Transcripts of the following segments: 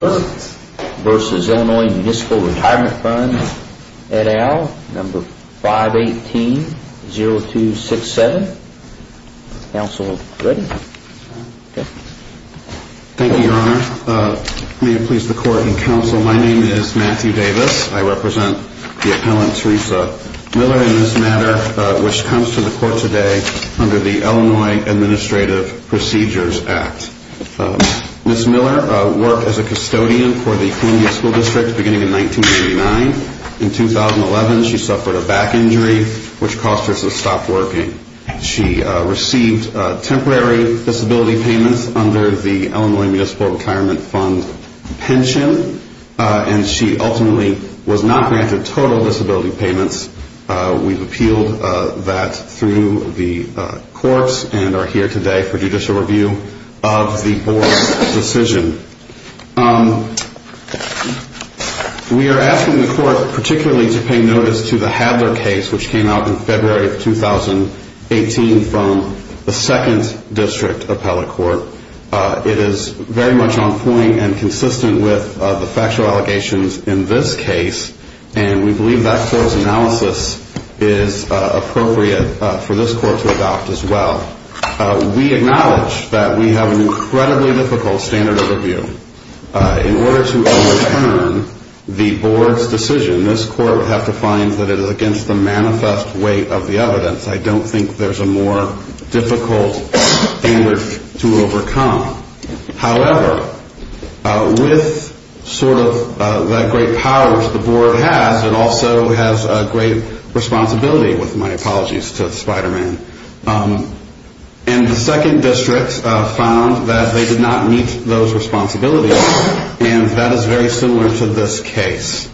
v. Ill. Municipal Retirement Fund, et al. 518-0267, counsel ready? Thank you, your honor. May it please the court and counsel, my name is Matthew Davis. I represent the appellant Teresa Miller in this matter, which comes to the court today under the Illinois Administrative Procedures Act. Ms. Miller worked as a custodian for the Columbia School District beginning in 1989. In 2011 she suffered a back injury which caused her to stop working. She received temporary disability payments under the Illinois Municipal Retirement Fund pension and she ultimately was not granted total disability payments. We've appealed that through the courts and are here today for judicial review of the board's decision. We are asking the court particularly to pay notice to the Hadler case which came out in February of 2018 from the 2nd District Appellate Court. It is very much on point and consistent with the factual allegations in this case and we believe that close analysis is appropriate for this court to adopt as well. We acknowledge that we have an incredibly difficult standard of review. In order to overturn the board's decision, this court would have to find that it is against the manifest weight of the evidence. I don't think there's a more difficult standard to overcome. However, with sort of the great powers the board has, it also has a great responsibility with my apologies to Spiderman. And the 2nd District found that they did not meet those responsibilities and that is very similar to this case.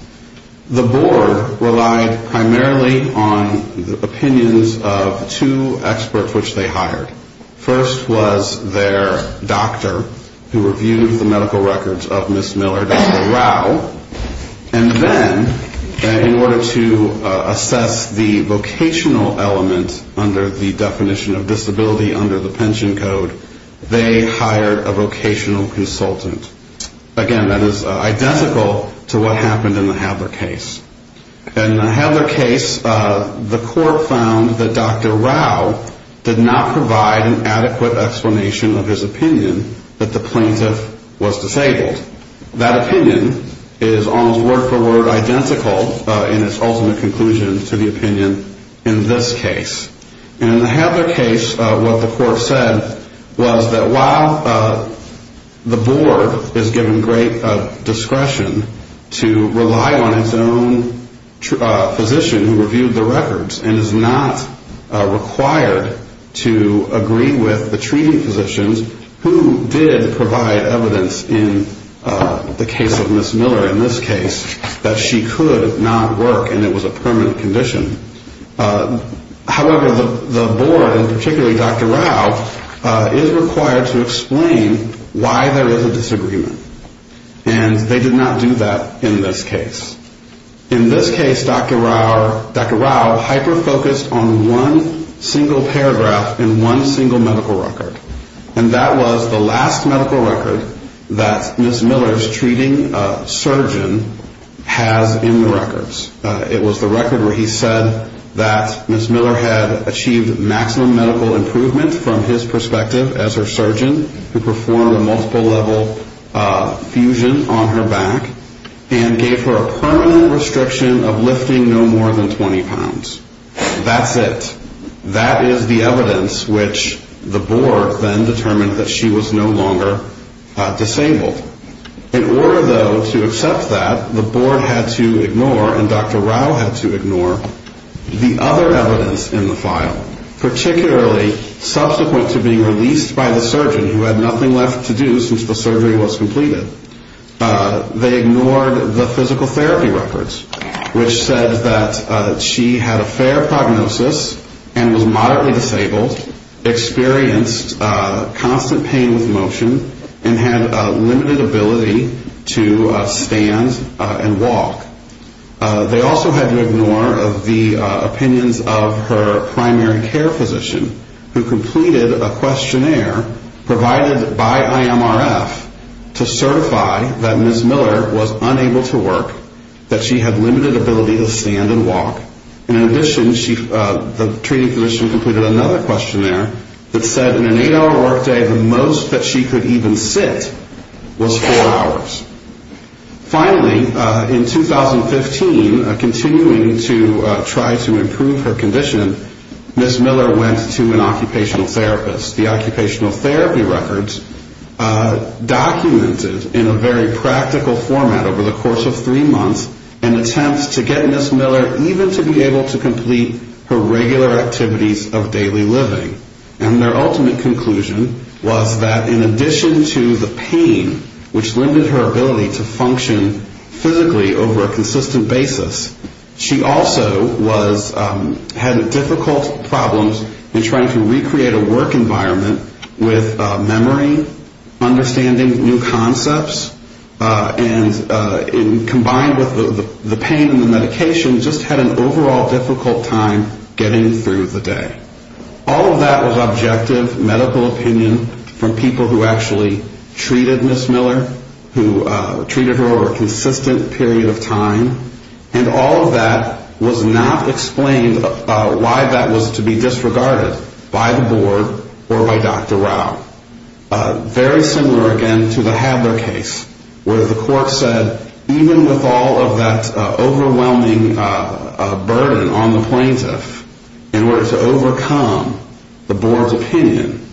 The board relied primarily on the opinions of two experts which they hired. First was their doctor who reviewed the medical records of Ms. Miller, Dr. Rao, and then in order to assess the vocational element under the definition of disability under the pension code, they hired a vocational consultant. Again, that is identical to what happened in the Hadler case. In the Hadler case, the court found that Dr. Rao did not provide an adequate explanation of his opinion that the plaintiff was disabled. That opinion is almost word for word identical in its ultimate conclusion to the opinion in this case. In the Hadler case, what the court said was that while the board is given great discretion to rely on its own physician who reviewed the records and is not required to agree with the treating physicians, who did provide evidence in the case of Ms. Miller in this case that she could not work and it was a permanent condition. However, the board and particularly Dr. Rao is required to explain why there is a disagreement and they did not do that in this case. In this case, Dr. Rao hyper-focused on one single paragraph in one single medical record and that was the last medical record that Ms. Miller's treating surgeon has in the records. It was the record where he said that Ms. Miller had achieved maximum medical improvement from his perspective as her surgeon who performed a multiple level fusion on her back and gave her a permanent restriction of lifting no more than 20 pounds. That's it. That is the evidence which the board then determined that she was no longer disabled. In order though to accept that, the board had to ignore and Dr. Rao had to ignore the other evidence in the file, particularly subsequent to being released by the surgeon who had nothing left to do since the surgery was completed. They ignored the physical therapy records which said that she had a fair prognosis and was moderately disabled, experienced constant pain with motion and had a limited ability to stand and walk. They also had to ignore the opinions of her primary care physician who completed a questionnaire provided by IMRF to certify that Ms. Miller was unable to work, that she had limited ability to stand and walk and in addition the treating physician completed another questionnaire that said in an 8-hour work day the most that she could even sit was 4 hours. Finally, in 2015, continuing to try to improve her condition, Ms. Miller went to an occupational therapist. The occupational therapy records documented in a very practical format over the course of three months an attempt to get Ms. Miller even to be able to complete her regular activities of daily living. And their ultimate conclusion was that in addition to the pain which limited her ability to function physically over a consistent basis, she also had difficult problems in trying to recreate a work environment with memory, understanding new concepts and combined with the pain and the medication just had an overall difficult time getting through the day. All of that was objective medical opinion from people who actually treated Ms. Miller, who treated her over a consistent period of time and all of that was not explained why that was to be disregarded by the board or by Dr. Rao. Very similar again to the Hadler case where the court said even with all of that overwhelming burden on the plaintiff in order to overcome the board's opinion,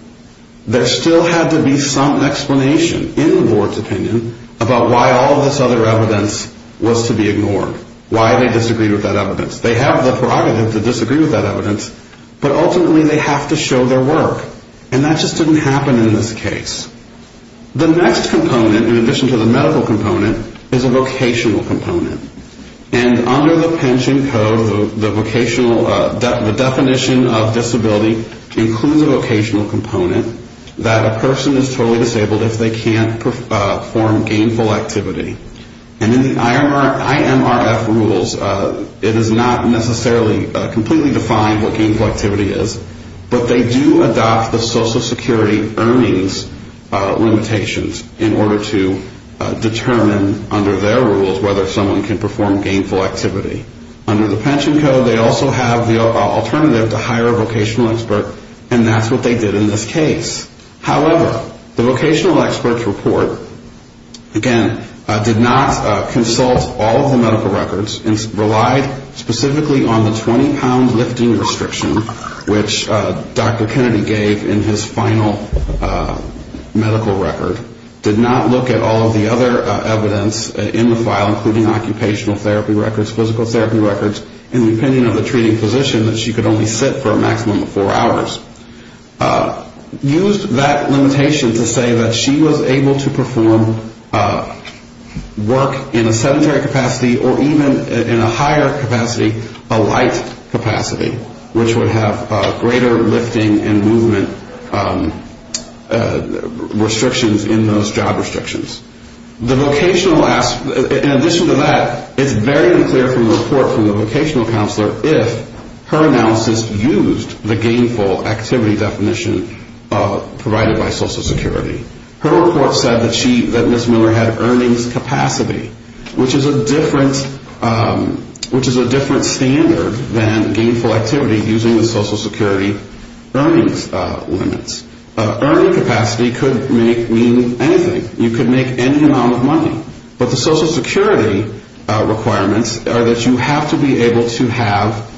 there still had to be some explanation in the board's opinion about why all of this other evidence was to be ignored, why they disagreed with that evidence. They have the prerogative to disagree with that evidence, but ultimately they have to show their work. And that just didn't happen in this case. The next component in addition to the medical component is a vocational component. And under the pension code, the definition of disability includes a vocational component that a person is totally disabled if they can't perform gainful activity. And in the IMRF rules, it is not necessarily completely defined what gainful activity is, but they do adopt the Social Security earnings limitations in order to determine under their rules whether someone can perform gainful activity. Under the pension code, they also have the alternative to hire a vocational expert and that's what they did in this case. However, the vocational expert's report, again, did not consult all of the medical records and relied specifically on the 20-pound lifting restriction, which Dr. Kennedy gave in his final medical record, did not look at all of the other evidence in the file, including occupational therapy records, physical therapy records, and the opinion of the treating physician that she could only sit for a maximum of four hours. Used that limitation to say that she was able to perform work in a sedentary capacity or even in a higher capacity, a light capacity, which would have greater lifting and movement restrictions in those job restrictions. In addition to that, it's very clear from the report from the vocational counselor if her analysis used the gainful activity definition provided by Social Security. Her report said that Ms. Miller had earnings capacity, which is a different standard than gainful activity using the Social Security earnings limits. Earning capacity could mean anything. You could make any amount of money. But the Social Security requirements are that you have to be able to have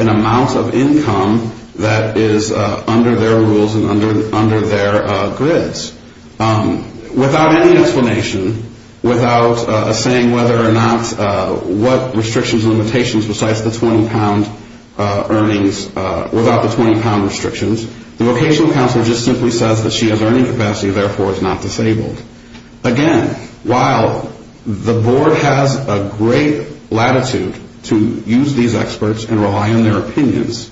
an amount of income that is under their rules and under their grids. Without any explanation, without saying whether or not what restrictions and limitations besides the 20-pound earnings, without the 20-pound restrictions, the vocational counselor just simply says that she has earning capacity and therefore is not disabled. Again, while the board has a great latitude to use these experts and rely on their opinions,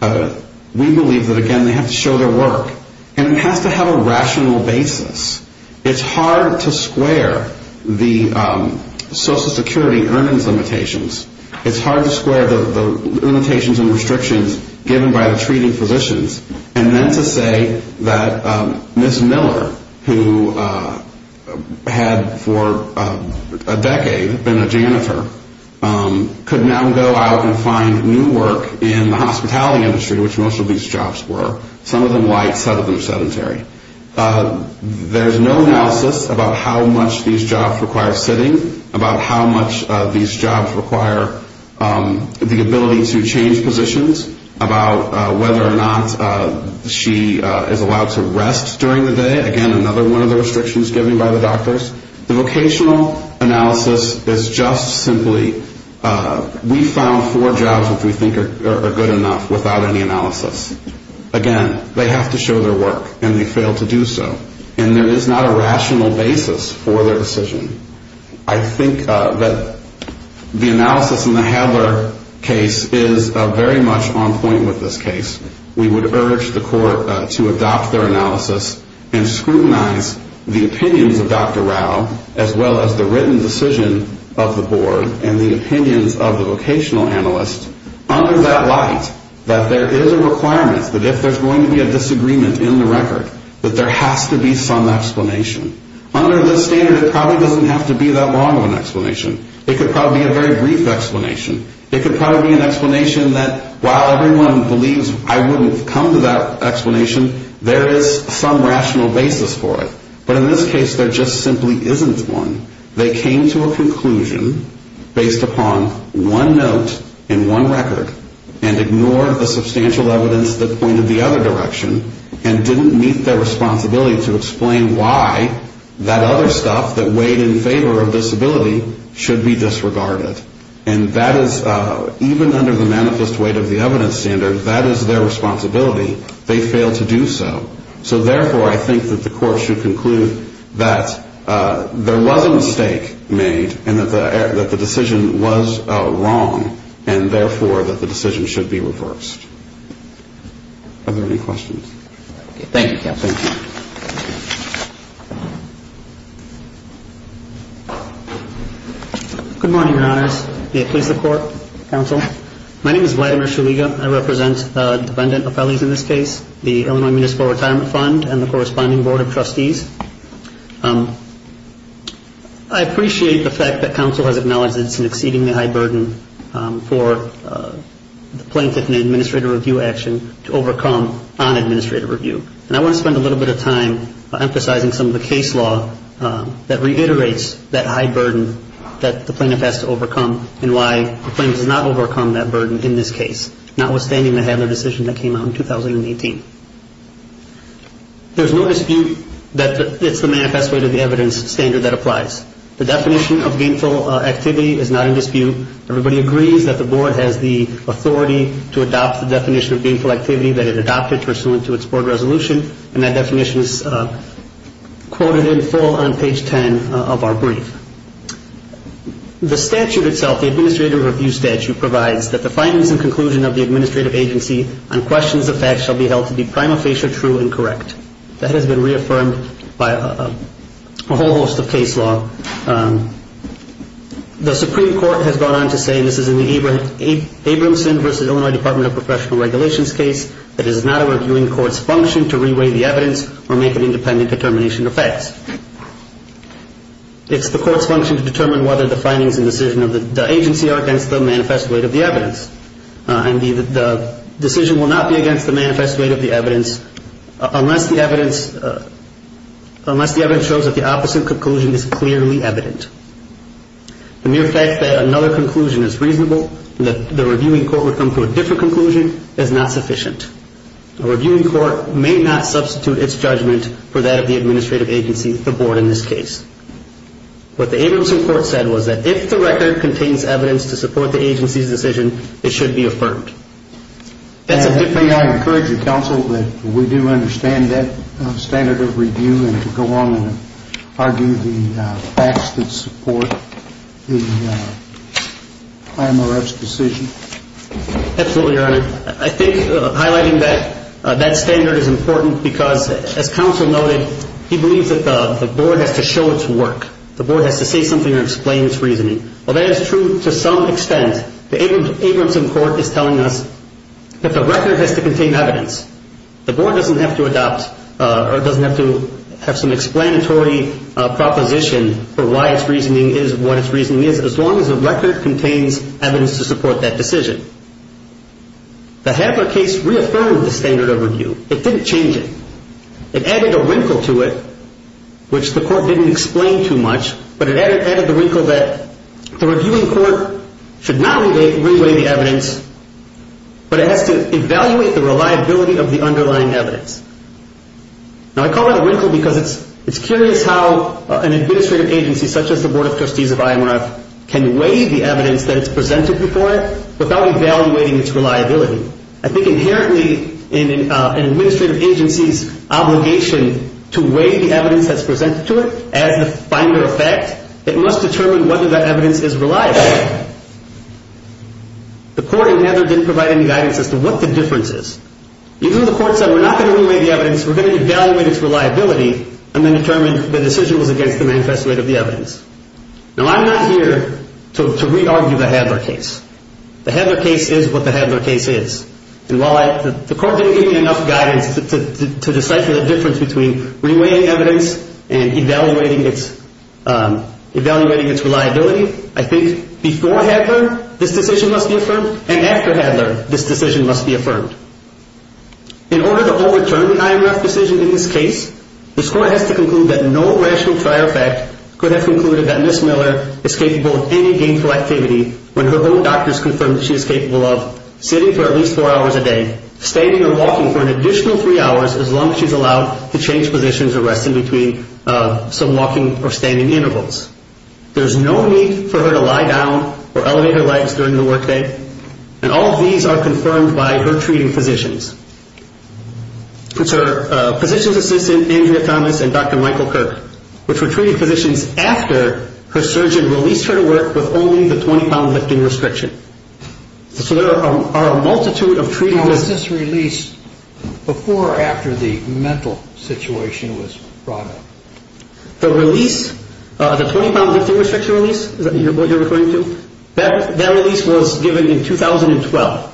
we believe that, again, they have to show their work. And it has to have a rational basis. It's hard to square the Social Security earnings limitations. It's hard to square the limitations and restrictions given by the treating physicians and then to say that Ms. Miller, who had for a decade been a janitor, could now go out and find new work in the hospitality industry, which most of these jobs were, some of them light, some of them sedentary. There's no analysis about how much these jobs require sitting, about how much these jobs require the ability to change positions, about whether or not she is allowed to rest during the day. Again, another one of the restrictions given by the doctors. The vocational analysis is just simply we found four jobs which we think are good enough without any analysis. Again, they have to show their work, and they fail to do so. And there is not a rational basis for their decision. I think that the analysis in the Hadler case is very much on point with this case. We would urge the court to adopt their analysis and scrutinize the opinions of Dr. Rao as well as the written decision of the board and the opinions of the vocational analyst under that light, that there is a requirement that if there's going to be a disagreement in the record, that there has to be some explanation. Under this standard, it probably doesn't have to be that long of an explanation. It could probably be a very brief explanation. It could probably be an explanation that while everyone believes I wouldn't have come to that explanation, there is some rational basis for it. But in this case, there just simply isn't one. They came to a conclusion based upon one note and one record and ignored the substantial evidence that pointed the other direction and didn't meet their responsibility to explain why that other stuff that weighed in favor of disability should be disregarded. And that is, even under the manifest weight of the evidence standard, that is their responsibility. They failed to do so. So, therefore, I think that the court should conclude that there was a mistake made and that the decision was wrong and, therefore, that the decision should be reversed. Are there any questions? Thank you, counsel. Thank you. Good morning, your honors. May it please the court. Counsel. My name is Vladimir Shuliga. I represent the defendant appellees in this case, the Illinois Municipal Retirement Fund, and the corresponding board of trustees. I appreciate the fact that counsel has acknowledged that it's an exceedingly high burden for the plaintiff in an administrative review action to overcome on administrative review. And I want to spend a little bit of time emphasizing some of the case law that reiterates that high burden that the plaintiff has to overcome and why the plaintiff does not overcome that burden in this case, notwithstanding the handling decision that came out in 2018. There's no dispute that it's the manifest weight of the evidence standard that applies. The definition of gainful activity is not in dispute. Everybody agrees that the board has the authority to adopt the definition of gainful activity that it adopted pursuant to its board resolution, and that definition is quoted in full on page 10 of our brief. The statute itself, the administrative review statute, provides that the findings and conclusion of the administrative agency on questions of facts shall be held to be prima facie true and correct. That has been reaffirmed by a whole host of case law. The Supreme Court has gone on to say, and this is in the Abramson v. Illinois Department of Professional Regulations case, that it is not our viewing court's function to re-weigh the evidence or make an independent determination of facts. It's the court's function to determine whether the findings and decision of the agency are against the manifest weight of the evidence. And the decision will not be against the manifest weight of the evidence unless the evidence shows that the opposite conclusion is clearly evident. The mere fact that another conclusion is reasonable and that the reviewing court would come to a different conclusion is not sufficient. A reviewing court may not substitute its judgment for that of the administrative agency, the board in this case. What the Abramson court said was that if the record contains evidence to support the agency's decision, it should be affirmed. May I encourage the counsel that we do understand that standard of review and to go on and argue the facts that support the IMRF's decision? Absolutely, Your Honor. I think highlighting that standard is important because, as counsel noted, he believes that the board has to show its work. The board has to say something or explain its reasoning. While that is true to some extent, the Abramson court is telling us that the record has to contain evidence. The board doesn't have to adopt or doesn't have to have some explanatory proposition for why its reasoning is what its reasoning is, as long as the record contains evidence to support that decision. The Habler case reaffirmed the standard of review. It didn't change it. It added a wrinkle to it, which the court didn't explain too much, but it added the wrinkle that the reviewing court should not re-weigh the evidence, but it has to evaluate the reliability of the underlying evidence. Now, I call that a wrinkle because it's curious how an administrative agency, such as the Board of Trustees of IMRF, can weigh the evidence that is presented before it without evaluating its reliability. I think inherently in an administrative agency's obligation to weigh the evidence that's presented to it as the finder effect, it must determine whether that evidence is reliable. The court in Habler didn't provide any guidance as to what the difference is. Even though the court said we're not going to weigh the evidence, we're going to evaluate its reliability, and then determine the decision was against the manifesto rate of the evidence. Now, I'm not here to re-argue the Habler case. The Habler case is what the Habler case is, and while the court didn't give me enough guidance to decipher the difference between re-weighing evidence and evaluating its reliability, I think before Habler, this decision must be affirmed, and after Habler, this decision must be affirmed. In order to overturn the IMRF decision in this case, this court has to conclude that no rational trial effect could have concluded that Ms. Miller is capable of any gainful activity when her own doctors confirm that she is capable of sitting for at least four hours a day, standing or walking for an additional three hours, as long as she's allowed to change positions or rest in between some walking or standing intervals. There's no need for her to lie down or elevate her legs during the workday, and all of these are confirmed by her treating physicians. It's her physician's assistant, Andrea Thomas, and Dr. Michael Kirk, which were treating physicians after her surgeon released her to work with only the 20-pound lifting restriction. So there are a multitude of treating physicians. Now, was this released before or after the mental situation was brought up? The release, the 20-pound lifting restriction release, is that what you're referring to? That release was given in 2012.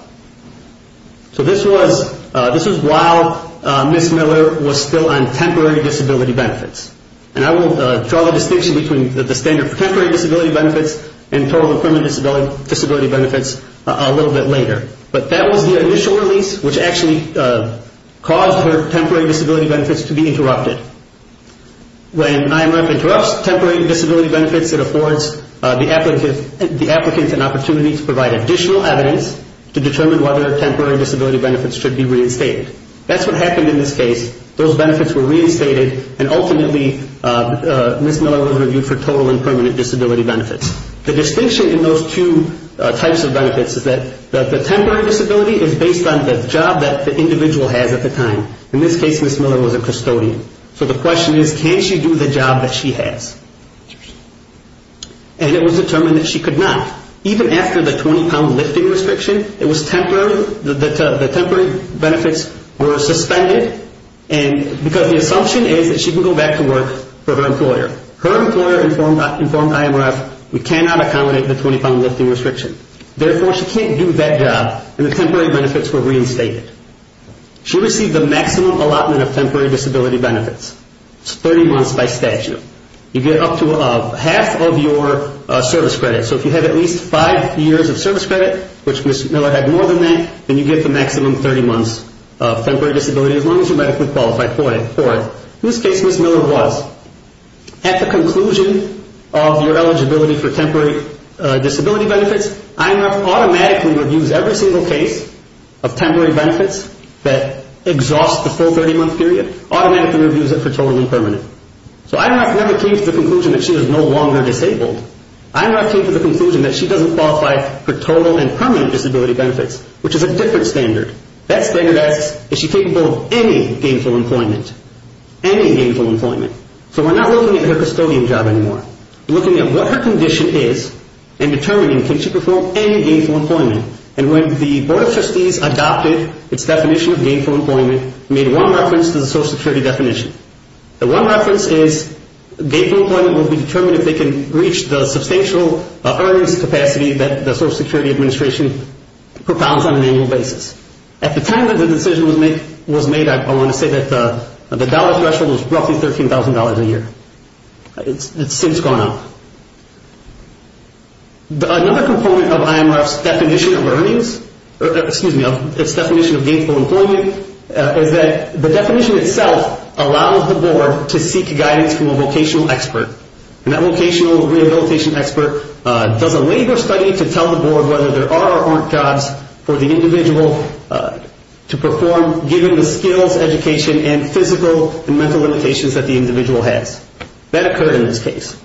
So this was while Ms. Miller was still on temporary disability benefits. And I will draw the distinction between the standard for temporary disability benefits and total and permanent disability benefits a little bit later. But that was the initial release, which actually caused her temporary disability benefits to be interrupted. When IMRF interrupts temporary disability benefits, it affords the applicants an opportunity to provide additional evidence to determine whether temporary disability benefits should be reinstated. That's what happened in this case. Those benefits were reinstated, and ultimately, Ms. Miller was reviewed for total and permanent disability benefits. The distinction in those two types of benefits is that the temporary disability is based on the job that the individual has at the time. In this case, Ms. Miller was a custodian. So the question is, can she do the job that she has? And it was determined that she could not. Even after the 20-pound lifting restriction, the temporary benefits were suspended because the assumption is that she can go back to work for her employer. Her employer informed IMRF, we cannot accommodate the 20-pound lifting restriction. Therefore, she can't do that job, and the temporary benefits were reinstated. She received the maximum allotment of temporary disability benefits, 30 months by statute. You get up to half of your service credit. So if you have at least five years of service credit, which Ms. Miller had more than that, then you get the maximum 30 months of temporary disability, as long as you're medically qualified for it. In this case, Ms. Miller was. At the conclusion of your eligibility for temporary disability benefits, IMRF automatically reviews every single case of temporary benefits that exhaust the full 30-month period, automatically reviews it for total and permanent. So IMRF never came to the conclusion that she was no longer disabled. IMRF came to the conclusion that she doesn't qualify for total and permanent disability benefits, which is a different standard. That standard asks, is she capable of any gainful employment? Any gainful employment. So we're not looking at her custodian job anymore. We're looking at what her condition is and determining, can she perform any gainful employment? And when the Board of Trustees adopted its definition of gainful employment, it made one reference to the Social Security definition. The one reference is gainful employment will be determined if they can reach the substantial earnings capacity that the Social Security Administration propounds on an annual basis. At the time that the decision was made, I want to say that the dollar threshold was roughly $13,000 a year. It's since gone up. Another component of IMRF's definition of earnings, excuse me, of its definition of gainful employment, is that the definition itself allows the board to seek guidance from a vocational expert. And that vocational rehabilitation expert does a labor study to tell the board whether there are or aren't jobs for the individual to perform given the skills, education, and physical and mental limitations that the individual has. That occurred in this case.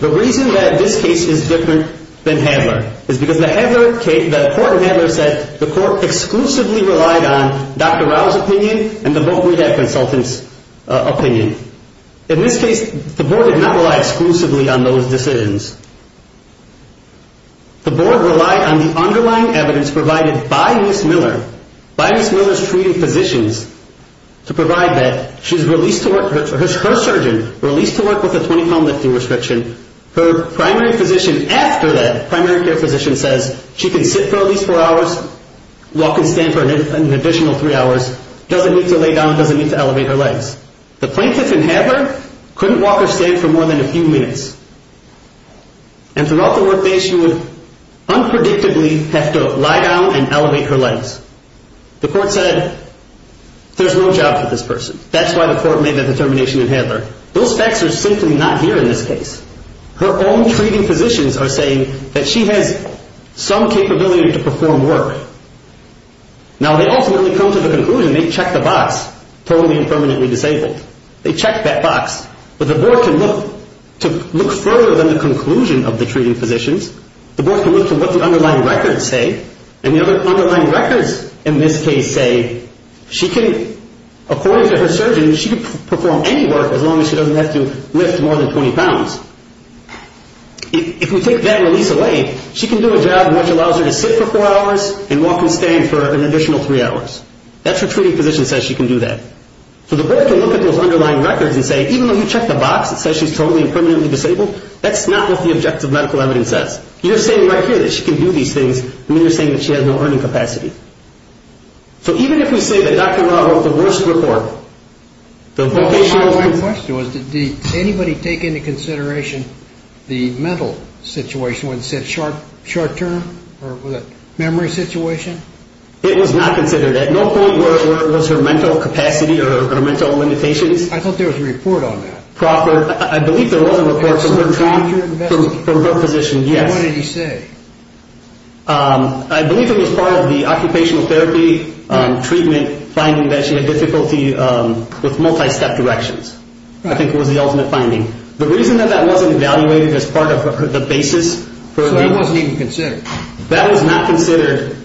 The reason that this case is different than Handler is because the Handler case, the court in Handler said the court exclusively relied on Dr. Rao's opinion and the voc rehab consultant's opinion. In this case, the board did not rely exclusively on those decisions. The board relied on the underlying evidence provided by Ms. Miller, by Ms. Miller's treating physicians, to provide that she's released to work, her surgeon released to work with a 20-pound lifting restriction. Her primary physician after that, primary care physician says she can sit for at least four hours, walk and stand for an additional three hours, doesn't need to lay down, doesn't need to elevate her legs. The plaintiff in Handler couldn't walk or stand for more than a few minutes. And throughout the workday, she would unpredictably have to lie down and elevate her legs. The court said there's no job for this person. That's why the court made that determination in Handler. Those facts are simply not here in this case. Her own treating physicians are saying that she has some capability to perform work. Now, they ultimately come to the conclusion they checked the box, totally and permanently disabled. They checked that box. But the board can look further than the conclusion of the treating physicians. The board can look to what the underlying records say. And the underlying records in this case say she can, according to her surgeon, she can perform any work as long as she doesn't have to lift more than 20 pounds. If we take that release away, she can do a job which allows her to sit for four hours and walk and stand for an additional three hours. That's what her treating physician says she can do that. So the board can look at those underlying records and say, even though you checked the box, it says she's totally and permanently disabled, that's not what the objective medical evidence says. You're saying right here that she can do these things, and then you're saying that she has no earning capacity. So even if we say that Dr. Law wrote the worst report, the vocation of the person. My question was, did anybody take into consideration the mental situation when it said short term or was it memory situation? It was not considered. At no point was her mental capacity or her mental limitations. I thought there was a report on that. I believe there was a report from her physician, yes. What did he say? I believe it was part of the occupational therapy treatment finding that she had difficulty with multi-step directions. I think it was the ultimate finding. The reason that that wasn't evaluated as part of the basis. So that wasn't even considered. That was not considered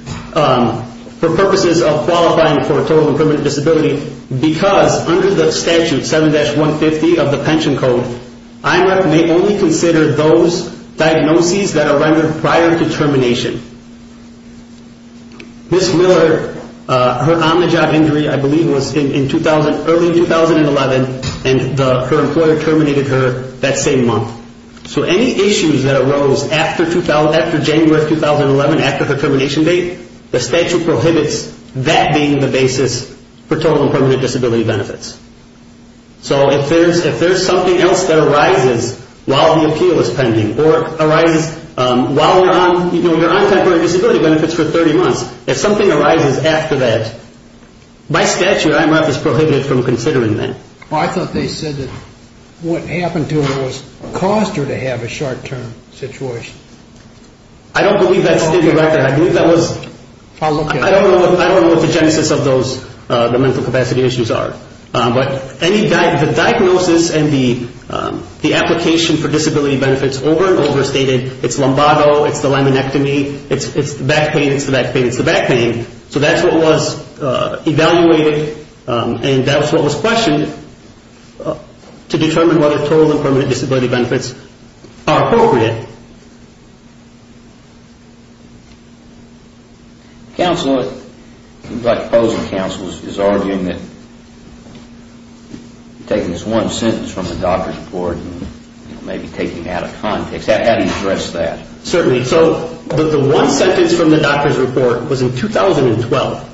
for purposes of qualifying for total and permanent disability because under the statute 7-150 of the pension code, IMREP may only consider those diagnoses that are rendered prior to termination. Ms. Miller, her omni-job injury I believe was in early 2011, and her employer terminated her that same month. So any issues that arose after January of 2011, after her termination date, the statute prohibits that being the basis for total and permanent disability benefits. So if there's something else that arises while the appeal is pending or arises while you're on temporary disability benefits for 30 months, if something arises after that, by statute IMREP is prohibited from considering that. I thought they said that what happened to her was caused her to have a short-term situation. I don't believe that stated right there. I don't know what the genesis of the mental capacity issues are. But the diagnosis and the application for disability benefits over and over stated, it's lumbago, it's the laminectomy, it's the back pain, it's the back pain, it's the back pain. So that's what was evaluated and that's what was questioned to determine whether total and permanent disability benefits are appropriate. Counselor, the black proposal counsel is arguing that taking this one sentence from the doctor's report and maybe taking it out of context, how do you address that? Certainly. So the one sentence from the doctor's report was in 2012.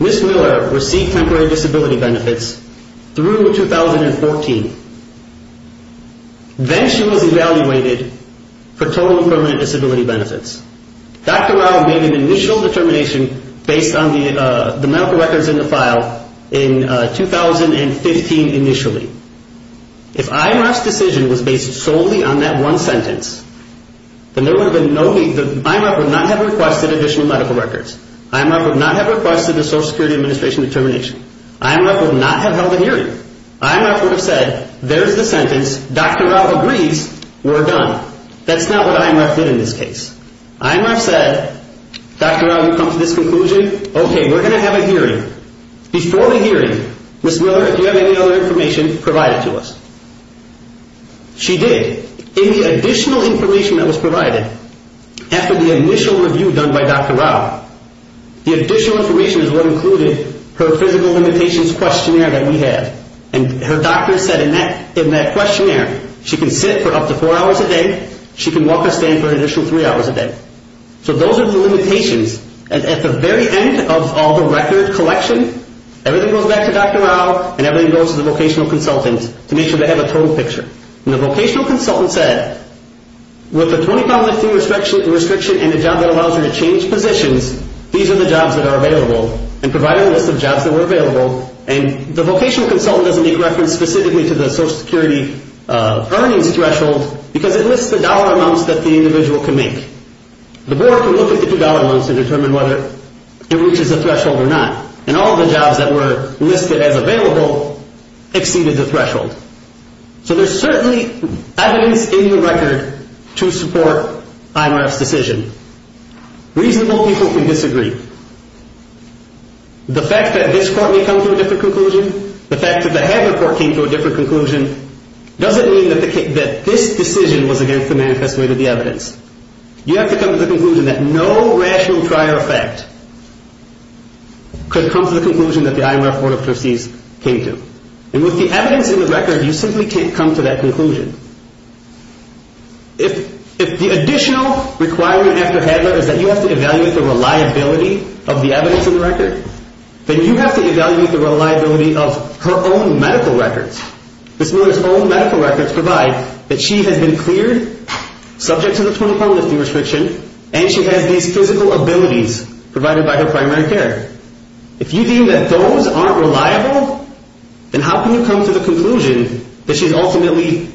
Ms. Miller received temporary disability benefits through 2014. Then she was evaluated for total and permanent disability benefits. Dr. Rao made an initial determination based on the medical records in the file in 2015 initially. If IMRF's decision was based solely on that one sentence, then there would have been no need, IMRF would not have requested additional medical records. IMRF would not have requested the Social Security Administration determination. IMRF would not have held a hearing. IMRF would have said, there's the sentence, Dr. Rao agrees, we're done. That's not what IMRF did in this case. IMRF said, Dr. Rao, you've come to this conclusion, okay, we're going to have a hearing. Before the hearing, Ms. Miller, if you have any other information, provide it to us. She did. In the additional information that was provided after the initial review done by Dr. Rao, the additional information is what included her physical limitations questionnaire that we had. And her doctor said in that questionnaire, she can sit for up to four hours a day, she can walk or stand for an initial three hours a day. So those are the limitations. And at the very end of all the record collection, everything goes back to Dr. Rao and everything goes to the vocational consultant to make sure they have a total picture. And the vocational consultant said, with the 25-month restriction and the job that allows her to change positions, these are the jobs that are available, and provided a list of jobs that were available. And the vocational consultant doesn't make reference specifically to the Social Security earnings threshold because it lists the dollar amounts that the individual can make. The board can look at the two dollar amounts and determine whether it reaches a threshold or not. And all the jobs that were listed as available exceeded the threshold. So there's certainly evidence in the record to support IMRF's decision. Reasonable people can disagree. The fact that this court may come to a different conclusion, the fact that the Hager court came to a different conclusion, doesn't mean that this decision was against the manifest way to the evidence. You have to come to the conclusion that no rational prior effect could come to the conclusion that the IMRF board of trustees came to. And with the evidence in the record, you simply can't come to that conclusion. If the additional requirement after Hager is that you have to evaluate the reliability of the evidence in the record, then you have to evaluate the reliability of her own medical records. Ms. Miller's own medical records provide that she has been cleared subject to the 20 pound lifting restriction and she has these physical abilities provided by her primary care. If you deem that those aren't reliable, then how can you come to the conclusion that she's ultimately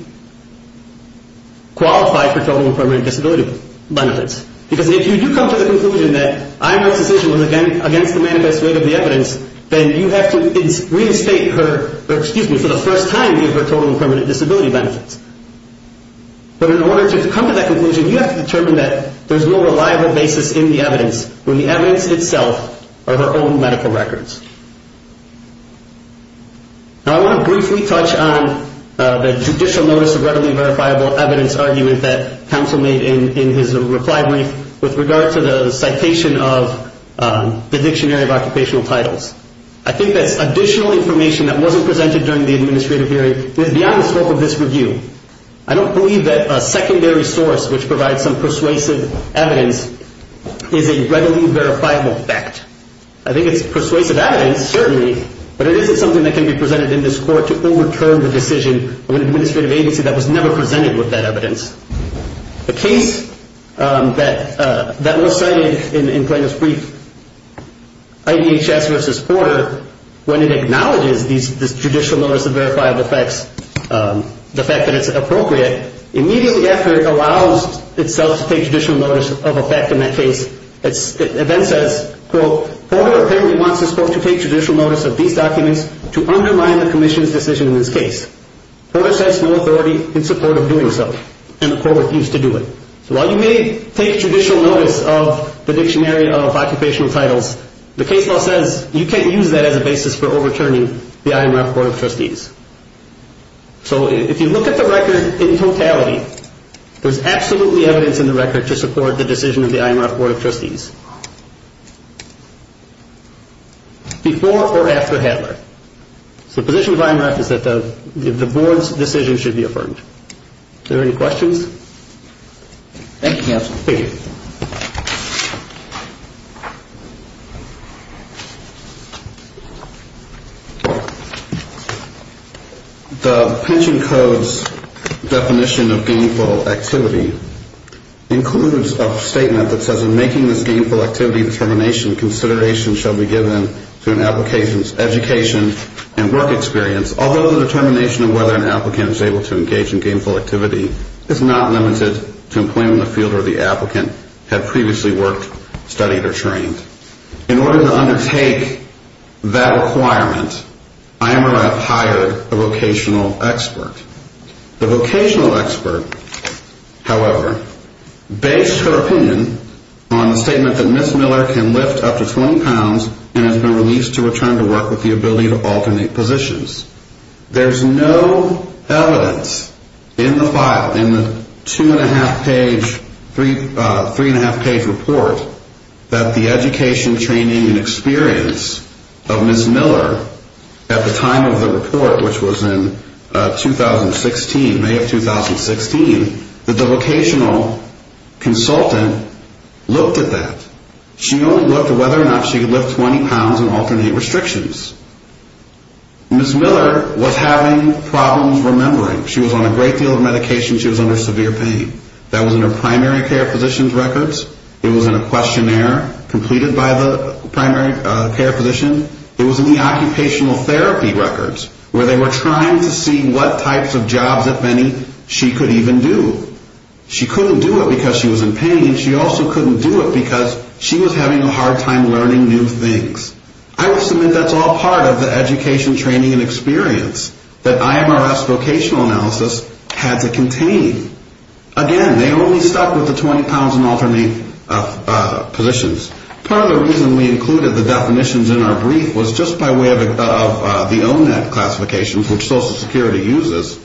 qualified for total and permanent disability benefits? Because if you do come to the conclusion that IMRF's decision was against the manifest way to the evidence, then you have to reinstate her, or excuse me, for the first time give her total and permanent disability benefits. But in order to come to that conclusion, you have to determine that there's no reliable basis in the evidence when the evidence itself are her own medical records. Now I want to briefly touch on the judicial notice of readily verifiable evidence argument that counsel made in his reply brief with regard to the citation of the dictionary of occupational titles. I think that's additional information that wasn't presented during the administrative hearing. It is beyond the scope of this review. I don't believe that a secondary source which provides some persuasive evidence is a readily verifiable fact. I think it's persuasive evidence, certainly, but it isn't something that can be presented in this court to overturn the decision of an administrative agency that was never presented with that evidence. The case that was cited in Plano's brief, IDHS versus Porter, when it acknowledges this judicial notice of verifiable facts, the fact that it's appropriate, immediately after it allows itself to take judicial notice of a fact in that case, it then says, quote, Porter apparently wants this court to take judicial notice of these documents to undermine the commission's decision in this case. Porter says no authority in support of doing so, and the court refused to do it. So while you may take judicial notice of the dictionary of occupational titles, the case law says you can't use that as a basis for overturning the IMRF Board of Trustees. So if you look at the record in totality, there's absolutely evidence in the record to support the decision of the IMRF Board of Trustees before or after Hadler. So the position of the IMRF is that the board's decision should be affirmed. Are there any questions? Thank you, counsel. Please. The pension code's definition of gainful activity includes a statement that says, when making this gainful activity determination, consideration shall be given to an application's education and work experience, although the determination of whether an applicant is able to engage in gainful activity is not limited to employment in the field or the applicant had previously worked, studied, or trained. In order to undertake that requirement, IMRF hired a vocational expert. The vocational expert, however, based her opinion on the statement that Ms. Miller can lift up to 20 pounds and has been released to return to work with the ability to alternate positions. There's no evidence in the file, in the two-and-a-half page, three-and-a-half page report, that the education, training, and experience of Ms. Miller at the time of the report, which was in 2016, May of 2016, that the vocational consultant looked at that. She only looked at whether or not she could lift 20 pounds and alternate restrictions. Ms. Miller was having problems remembering. She was on a great deal of medication. She was under severe pain. That was in her primary care physician's records. It was in a questionnaire completed by the primary care physician. It was in the occupational therapy records where they were trying to see what types of jobs, if any, she could even do. She couldn't do it because she was in pain. She also couldn't do it because she was having a hard time learning new things. I will submit that's all part of the education, training, and experience that IMRF's vocational analysis had to contain. Again, they only stuck with the 20 pounds and alternate positions. Part of the reason we included the definitions in our brief was just by way of the OMNET classifications, which Social Security uses,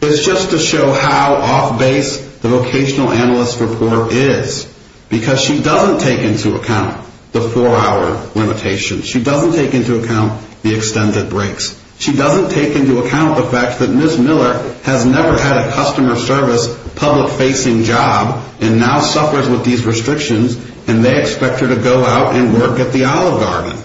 is just to show how off-base the vocational analyst's report is because she doesn't take into account the four-hour limitations. She doesn't take into account the extended breaks. She doesn't take into account the fact that Ms. Miller has never had a customer service public-facing job and now suffers with these restrictions, and they expect her to go out and work at the Olive Garden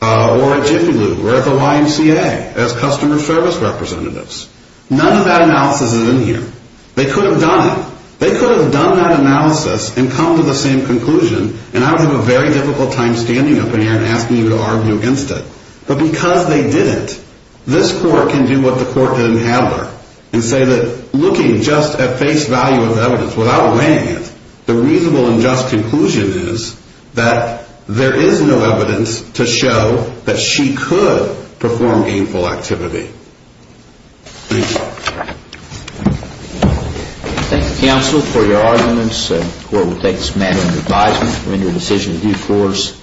or at Jiffy Lube or at the YMCA as customer service representatives. None of that analysis is in here. They could have done it. They could have done that analysis and come to the same conclusion, and I would have a very difficult time standing up in here and asking you to argue against it. But because they didn't, this Court can do what the Court didn't have her and say that looking just at face value of evidence, without weighing it, the reasonable and just conclusion is that there is no evidence to show that she could perform gainful activity. Thank you. Thank you, counsel, for your arguments. The Court will take this matter into advisement to render a decision in due course.